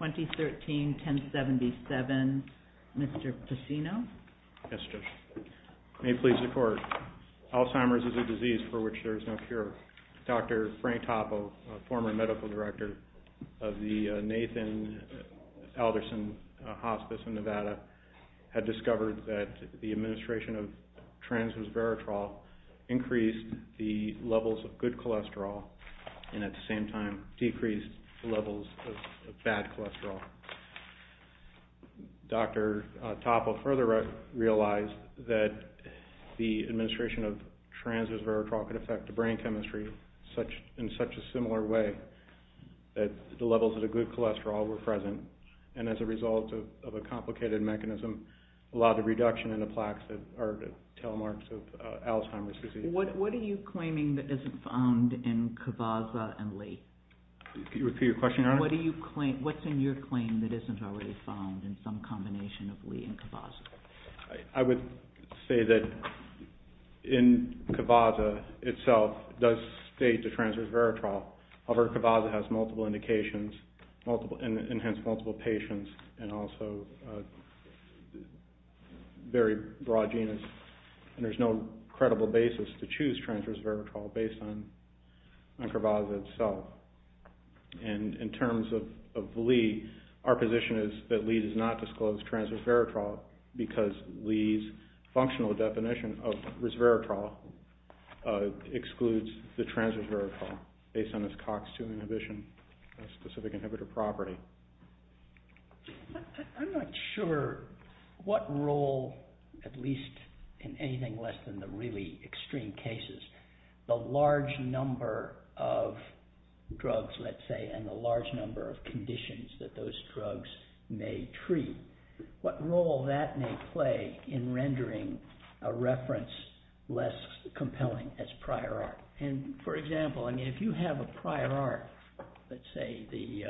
2013-1077, Mr. Pacino. Yes, Judge. May it please the Court, Alzheimer's is a disease for which there is no cure. Dr. Frank Toppo, former medical director of the Nathan Alderson Hospital in Nevada, had discovered that the administration of trans-resveratrol increased the levels of good cholesterol and at the same time decreased the levels of bad cholesterol. Dr. Toppo further realized that the administration of trans-resveratrol could affect the brain chemistry in such a complicated mechanism, a lot of reduction in the plaques that are the tail marks of Alzheimer's disease. What are you claiming that isn't found in Kavaza and Lee? Can you repeat your question, Your Honor? What do you claim, what's in your claim that isn't already found in some combination of Lee and Kavaza? I would say that in Kavaza itself does state the trans-resveratrol. However, Kavaza has multiple indications and hence multiple patients and also a very broad genus and there's no credible basis to choose trans-resveratrol based on Kavaza itself. In terms of Lee, our position is that Lee does not disclose trans-resveratrol because Lee's functional definition of resveratrol excludes the trans-resveratrol based on its tox-2 inhibition specific inhibitor property. I'm not sure what role, at least in anything less than the really extreme cases, the large number of drugs, let's say, and the large number of conditions that those drugs may treat, what role that may play in rendering a reference less compelling as prior art. For example, if you have a prior art, let's say the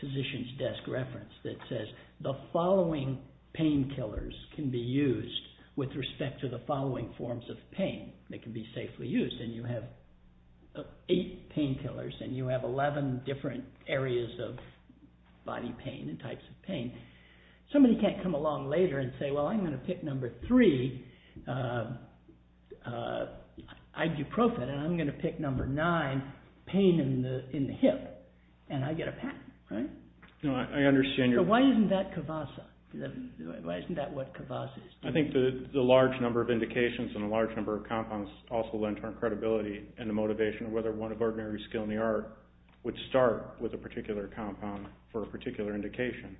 physician's desk reference that says the following painkillers can be used with respect to the following forms of pain that can be safely used and you have eight painkillers and you have eleven different areas of body pain and types of pain, somebody can't come along later and say, well, I'm going to pick number three, ibuprofen, and I'm going to pick number nine, pain in the hip, and I get a patent. Why isn't that Kavaza? I think the large number of indications and the large number of compounds also lend to our credibility and the motivation of whether one of ordinary skill in the art would start with a particular indication,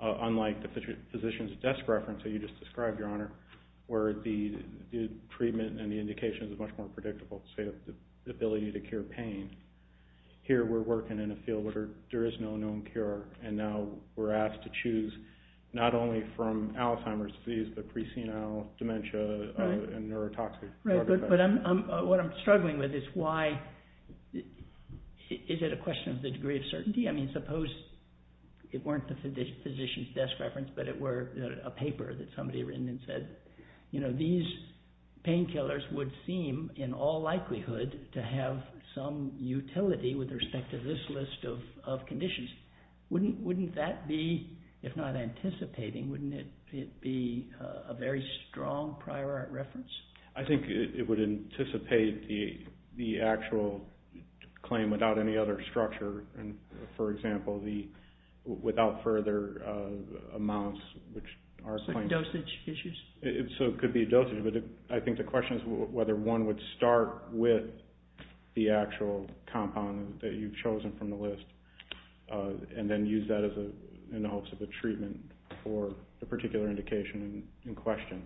unlike the physician's desk reference that you just described, Your Honor, where the treatment and the indication is much more predictable, say the ability to cure pain. Here we're working in a field where there is no known cure and now we're asked to choose not only from Alzheimer's disease, but pre-senile dementia and neurotoxic. Right, but what I'm struggling with is why, is it a question of the degree of certainty? I mean, suppose it weren't the physician's desk reference, but it were a paper that somebody had written and said, you know, these painkillers would seem in all likelihood to have some utility with respect to this list of conditions. Wouldn't that be, if not anticipating, wouldn't it be a very strong prior art reference? I think it would anticipate the actual claim without any other structure and, for example, without further amounts, which are a claim. Like dosage issues? So it could be a dosage, but I think the question is whether one would start with the actual compound that you've chosen from the list and then use that in the hopes of a treatment for the particular indication in question.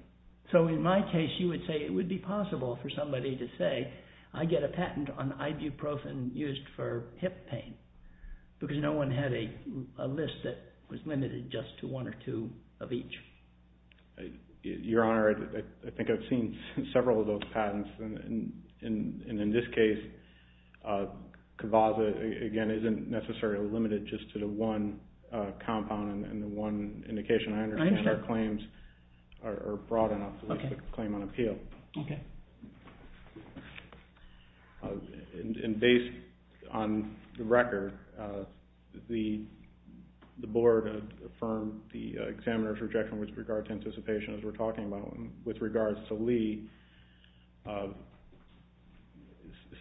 So in my case, you would say it would be possible for somebody to say, I get a patent on ibuprofen used for hip pain, because no one had a list that was limited just to one or two of each. Your Honor, I think I've seen several of those patents and in this case, Kvaza, again, isn't necessarily limited just to the one compound and the one indication I understand are claims are broad enough to list a claim on appeal. Okay. And based on the record, the Board affirmed the examiner's rejection with regard to anticipation as we're talking about, with regards to Lee,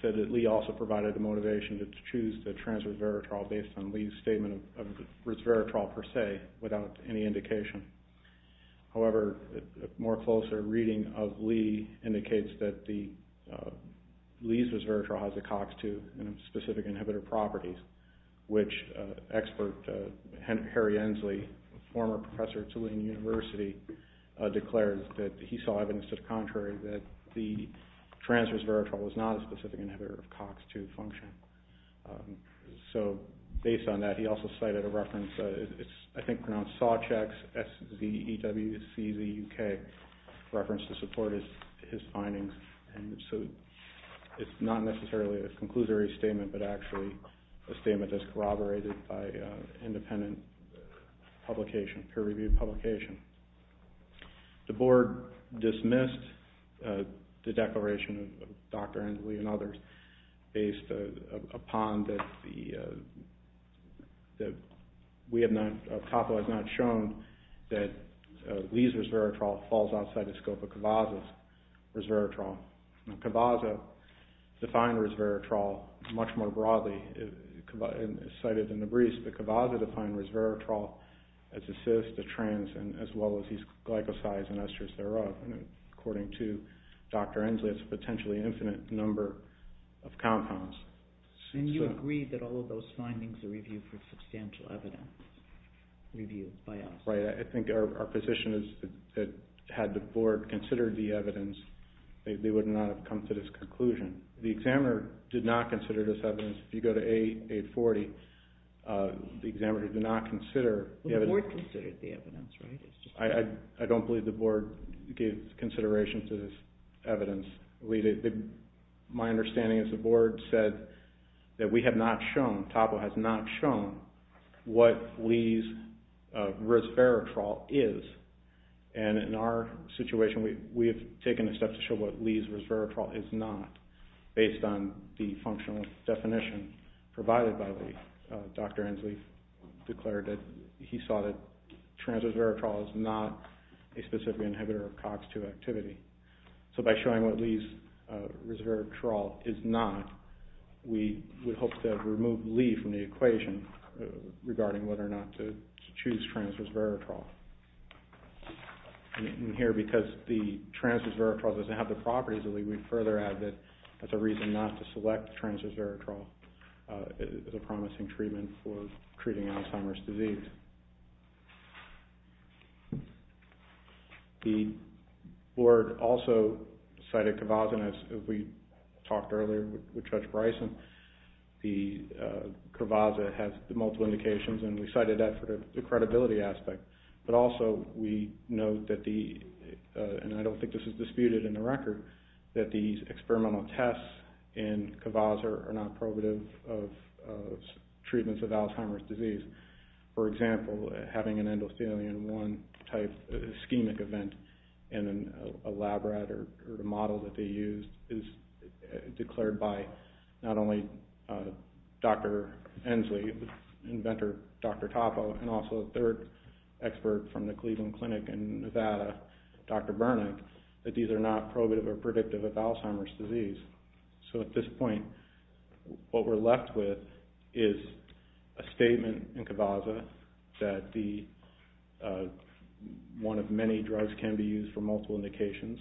said that Lee also provided the motivation to choose the transverse veritrol based on Lee's statement of reverse veritrol per se without any indication. However, a more closer reading of Lee indicates that Lee's veritrol has a COX-2 specific inhibitor properties, which expert Harry Ensley, former professor at Tulane University, declares that he saw evidence to the contrary, that the transverse veritrol was not a specific inhibitor of COX-2 function. So, based on that, he also cited a reference, I think pronounced Sawcheck's, S-Z-E-W-C-Z-U-K, reference to support his findings. And so, it's not necessarily a conclusory statement, but actually a statement that's corroborated by independent publication, peer-reviewed publication. The Board dismissed the declaration of Dr. Ensley and others based upon that the, that we have not, ACAPO has not shown that Lee's reverse veritrol falls outside the scope of Cavazza's reverse veritrol. Now, Cavazza defined reverse veritrol much more broadly, cited in the briefs, but Cavazza defined reverse veritrol as a cyst, a trans, and as well as these glycosides and esters thereof, and according to Dr. Ensley, it's a potentially infinite number of compounds. And you agree that all of those findings are reviewed for substantial evidence, reviewed by us? Right, I think our position is that had the Board considered the evidence, they would not have come to this conclusion. The examiner did not consider this evidence. If you go to A840, the examiner did not consider the evidence. Well, the Board considered the evidence, right? I don't believe the Board gave consideration to this evidence. My understanding is the Board said that we have not shown, TAPO has not shown, what Lee's reverse veritrol is, and in our situation, we have taken a step to show what Lee's reverse veritrol is not, based on the functional definition provided by Lee. Dr. Ensley declared that he saw that transverse veritrol is not a specific inhibitor of COX-2 activity. So by showing what Lee's reverse veritrol is not, we hope to remove Lee from the equation regarding whether or not to choose transverse veritrol. And here, because the transverse veritrol doesn't have the properties of Lee, we further add that that's a reason not to select transverse veritrol as a promising treatment for treating Alzheimer's disease. The Board also cited Kvaza, and as we talked earlier with Judge Bryson, Kvaza has multiple indications, and we cited that for the credibility aspect. But also, we note that the, and I don't think this is disputed in the record, that these experimental tests in Kvaza are not prohibitive of treatments of Alzheimer's disease. For example, having an endothelium-1 type ischemic event in a lab rat or a model that can be used is declared by not only Dr. Ensley, inventor Dr. Toppo, and also a third expert from the Cleveland Clinic in Nevada, Dr. Bernick, that these are not prohibitive or predictive of Alzheimer's disease. So at this point, what we're left with is a statement in Kvaza that the, one of many drugs can be used for multiple indications,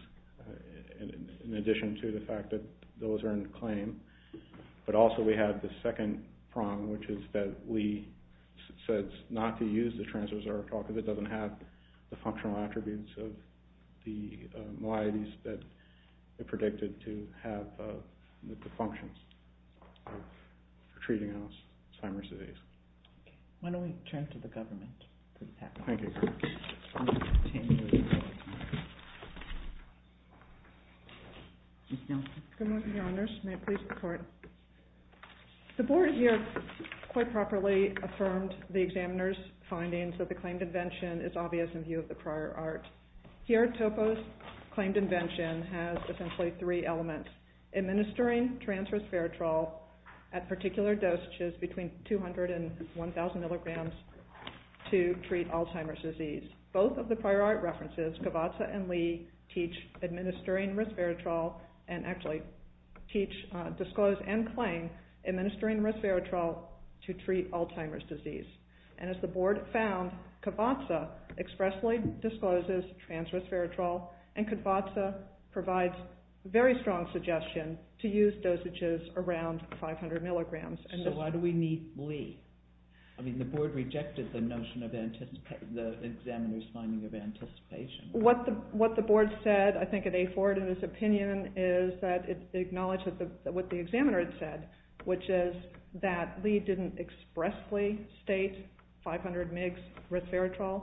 in addition to the fact that those are in claim. But also we have the second prong, which is that Lee says not to use the transverse veritrol because it doesn't have the functional attributes of the malaises that are predicted to have the functions for treating Alzheimer's disease. Why don't we turn to the government. The board here quite properly affirmed the examiner's findings that the claimed invention is obvious in view of the prior art. Here Toppo's claimed invention has essentially three elements. Administering transverse veritrol at particular dosages between 200 and 1,000 milligrams to treat Alzheimer's disease. Both of the prior art references, Kvaza and Lee, teach administering transverse veritrol and actually teach, disclose and claim administering transverse veritrol to treat Alzheimer's disease. And as the board found, Kvaza expressly discloses transverse veritrol and Kvaza provides very strong suggestion to use dosages around 500 milligrams. So why do we need Lee? I mean, the board rejected the notion of the examiner's finding of anticipation. What the board said, I think, at A4 in its opinion is that it acknowledges what the examiner had said, which is that Lee didn't expressly state 500 mg transverse veritrol,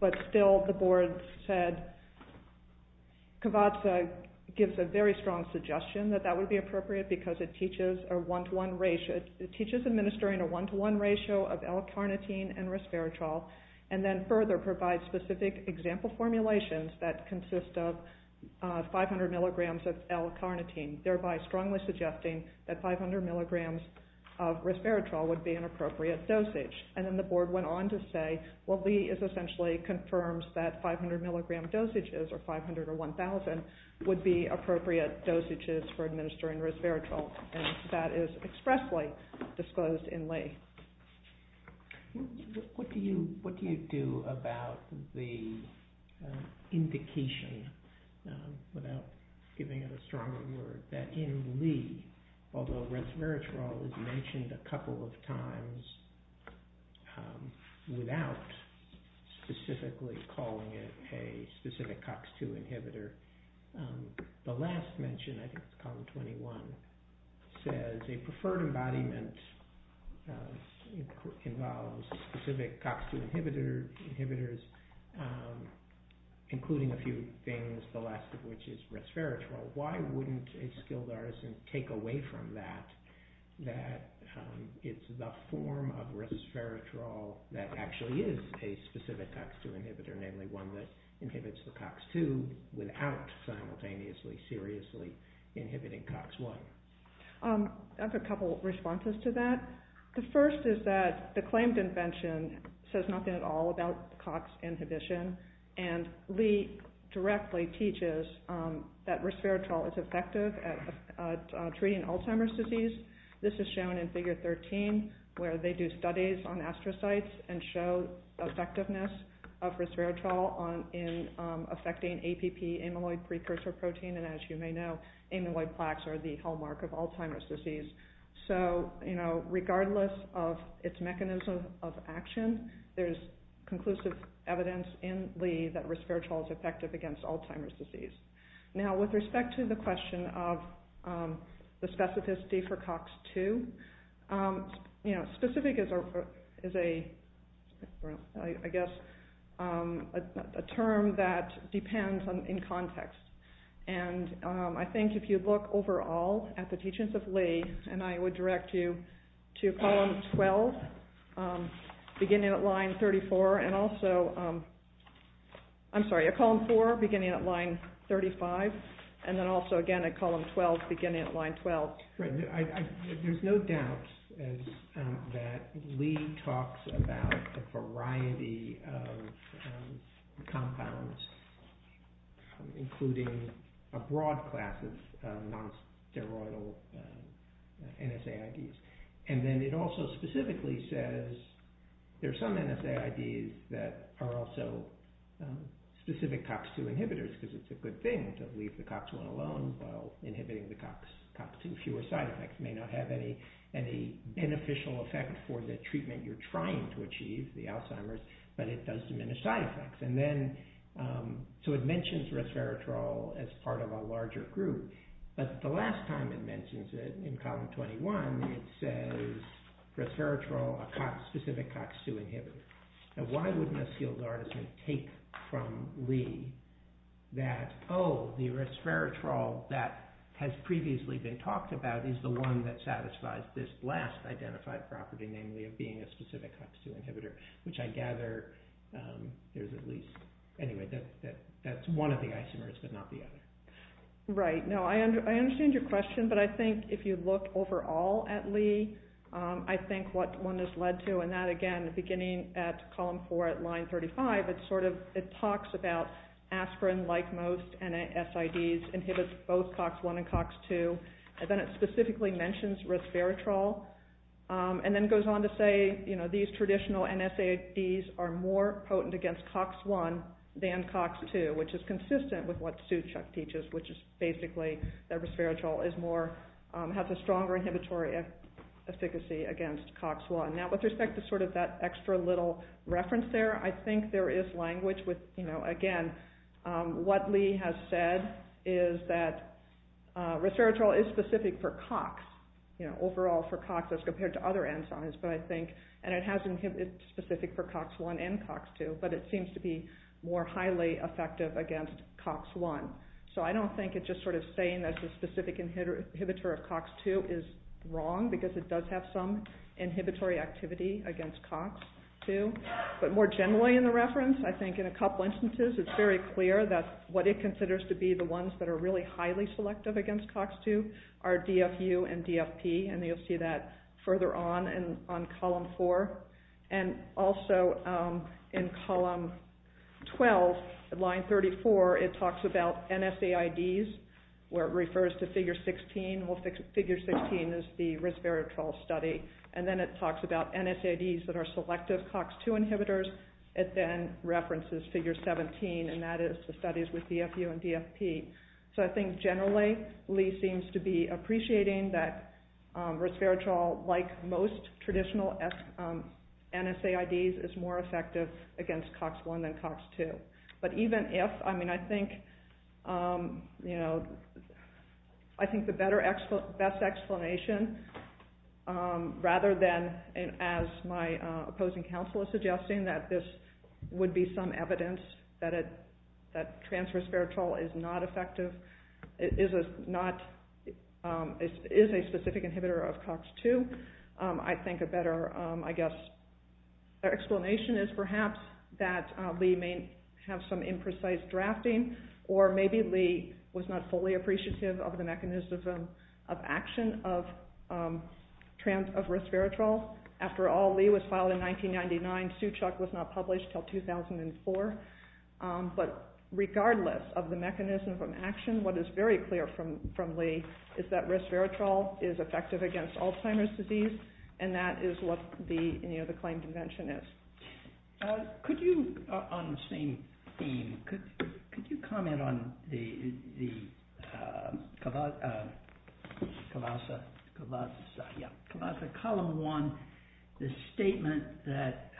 but still the board said Kvaza gives a very strong suggestion that that would be appropriate because it teaches administering a one-to-one ratio of L-carnitine and resveratrol and then further provides specific example formulations that consist of 500 mg of L-carnitine, thereby strongly suggesting that 500 mg of resveratrol would be an appropriate dosage. And then the board went on to say, well, Lee essentially confirms that 500 mg dosages or 500 or 1,000 would be appropriate dosages for administering resveratrol and that is expressly disclosed in Lee. What do you do about the indication, without giving it a stronger word, that in Lee, although he has said it a couple of times without specifically calling it a specific COX-2 inhibitor, the last mention, I think it's column 21, says a preferred embodiment involves specific COX-2 inhibitors, including a few things, the last of which is resveratrol. Why wouldn't a skilled artisan take away from that that it's the form of resveratrol that actually is a specific COX-2 inhibitor, namely one that inhibits the COX-2 without simultaneously seriously inhibiting COX-1? I have a couple of responses to that. The first is that the claimed invention says nothing at all about COX inhibition and Lee directly teaches that resveratrol is effective at treating Alzheimer's disease. This is shown in Figure 13, where they do studies on astrocytes and show effectiveness of resveratrol in affecting APP, amyloid precursor protein, and as you may know, amyloid plaques are the hallmark of Alzheimer's disease. So, you know, regardless of its mechanism of action, there's conclusive evidence in that resveratrol is effective against Alzheimer's disease. Now with respect to the question of the specificity for COX-2, you know, specific is a, I guess, a term that depends in context, and I think if you look overall at the teachings of Lee and I would direct you to column 12, beginning at line 34, and also, I'm sorry, at column 4, beginning at line 35, and then also again at column 12, beginning at line 12. There's no doubt that Lee talks about a variety of compounds, including a broad class of non-steroidal NSAIDs, and then it also specifically says there's some NSAIDs that are also specific COX-2 inhibitors, because it's a good thing to leave the COX-1 alone while inhibiting the COX-2. Fewer side effects may not have any beneficial effect for the treatment you're trying to achieve, the Alzheimer's, but it does diminish side effects, and then, so it mentions resveratrol as part of a larger group, but the last time it mentions it, in column 21, it says resveratrol a COX, specific COX-2 inhibitor. Now why wouldn't a sealed artisan take from Lee that, oh, the resveratrol that has previously been talked about is the one that satisfies this last identified property, namely of being a specific COX-2 inhibitor, which I gather there's at least, anyway, that's one of the Alzheimer's, but not the other. Right. No, I understand your question, but I think if you look overall at Lee, I think what one has led to, and that, again, beginning at column four at line 35, it sort of, it talks about aspirin, like most NSAIDs, inhibits both COX-1 and COX-2, and then it specifically mentions resveratrol, and then goes on to say, you know, these traditional NSAIDs are more potent against COX-1 than COX-2, which is consistent with what Suchuk teaches, which is basically that resveratrol is more, has a stronger inhibitory efficacy against COX-1. Now with respect to sort of that extra little reference there, I think there is language with, you know, again, what Lee has said is that resveratrol is specific for COX, you know, overall for COX as compared to other enzymes, but I think, and it has inhibits specific for COX-1 and COX-2, but it seems to be more highly effective against COX-1. So I don't think it's just sort of saying that the specific inhibitor of COX-2 is wrong, because it does have some inhibitory activity against COX-2, but more generally in the reference, I think in a couple instances, it's very clear that what it considers to be the ones that are really highly selective against COX-2 are DFU and DFP, and you'll see that further on in, on column four, and also in column 12, line 34, it talks about NSAIDs, where it refers to figure 16, well figure 16 is the resveratrol study, and then it talks about NSAIDs that are selective COX-2 inhibitors, it then references figure 17, and that is the studies with DFU and DFP. So I think generally, Lee seems to be appreciating that resveratrol, like most traditional NSAIDs, is more effective against COX-1 than COX-2. But even if, I mean, I think, you know, I think the better, best explanation, rather than, as my opposing counsel is suggesting, that this would be some evidence that transresveratrol is not effective, is a specific inhibitor of COX-2, I think a better, I guess, explanation is perhaps that Lee may have some imprecise drafting, or maybe Lee was not fully appreciative of the mechanism of action of transresveratrol. After all, Lee was filed in 1999, Suchuk was not published until 2004, but regardless of the mechanism of action, what is very clear from Lee is that resveratrol is effective against Alzheimer's disease, and that is what the, you know, the claim convention is. Could you, on the same theme, could you comment on the Colossus, Colossus, yeah, Colossus Column 1, the statement that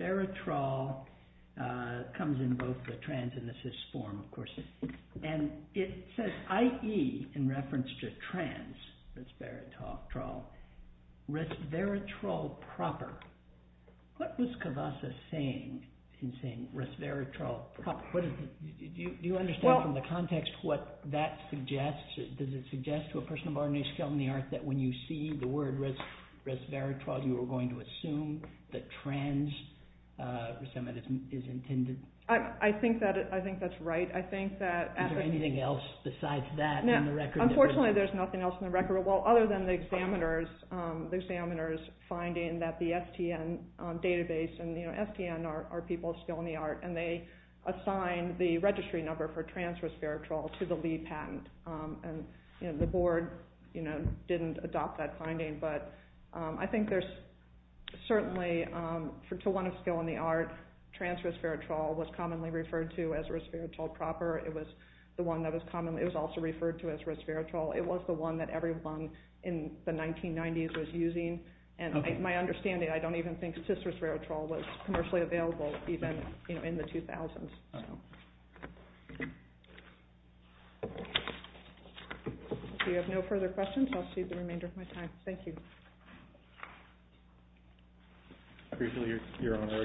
resveratrol comes in both the trans and the cis form, of course, and it says, i.e., in reference to transresveratrol, resveratrol proper. What was Cavassa saying in saying resveratrol proper? Do you understand from the context what that suggests? Does it suggest to a person of ordinary skill and the art that when you see the word resveratrol you are going to assume that transresveratrol is intended? I think that's right. I think that... Is there anything else besides that in the record? Unfortunately, there's nothing else in the record, well, other than the examiners, the examiners finding that the STN database, and, you know, STN are people of skill and the art, and they assign the registry number for transresveratrol to the Lee patent, and, you know, the board, you know, didn't adopt that finding, but I think there's certainly, to a person of skill and the art, transresveratrol was commonly referred to as resveratrol proper. It was the one that was commonly, it was also referred to as resveratrol. It was the one that everyone in the 1990s was using, and my understanding, I don't even think cisresveratrol was commercially available even, you know, in the 2000s. Do you have no further questions? I'll cede the remainder of my time. Thank you. Briefly, Your Honor,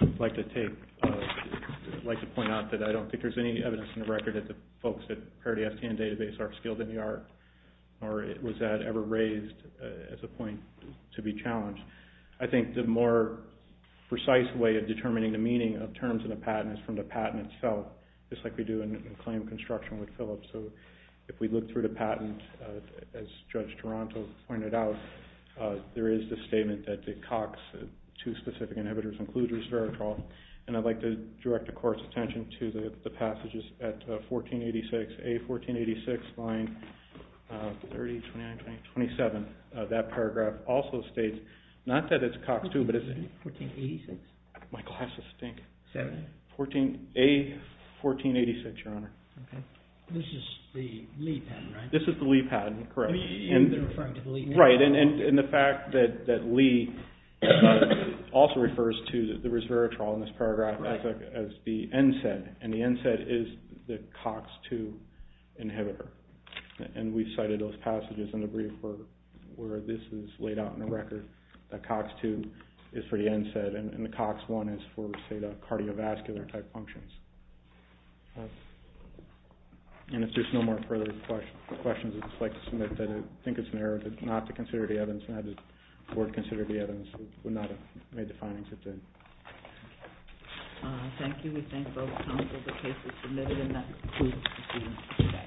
I'd like to take, I'd like to point out that I don't think there's any evidence in the record that the folks at Parity STN database are skilled in the art, or was that ever raised as a point to be challenged. I think the more precise way of determining the meaning of terms in a patent is from the patent itself, just like we do in claim construction with Philips. So if we look through the patent, as Judge Toronto pointed out, there is the statement that the COX, two specific inhibitors, includes resveratrol, and I'd like to direct the Court's attention to the passages at 1486, A1486, line 30, 29, 20, 27. That paragraph also states, not that it's COX too, but it's... 1486. My glasses stink. Seven. A1486, Your Honor. This is the Lee patent, right? This is the Lee patent, correct. You've been referring to the Lee patent. Right, and the fact that Lee also refers to the resveratrol in this paragraph as the NSAID, and the NSAID is the COX-2 inhibitor, and we cited those passages in the brief where this is laid out in the record, that COX-2 is for the NSAID and the COX-1 is for, say, cardiovascular-type functions. And if there's no more further questions, I'd just like to submit that I think it's an error not to consider the evidence, and I'd like the Court to consider the evidence that would not have made the findings it did. Thank you. We thank both counsel for the cases submitted, and that concludes the hearing today.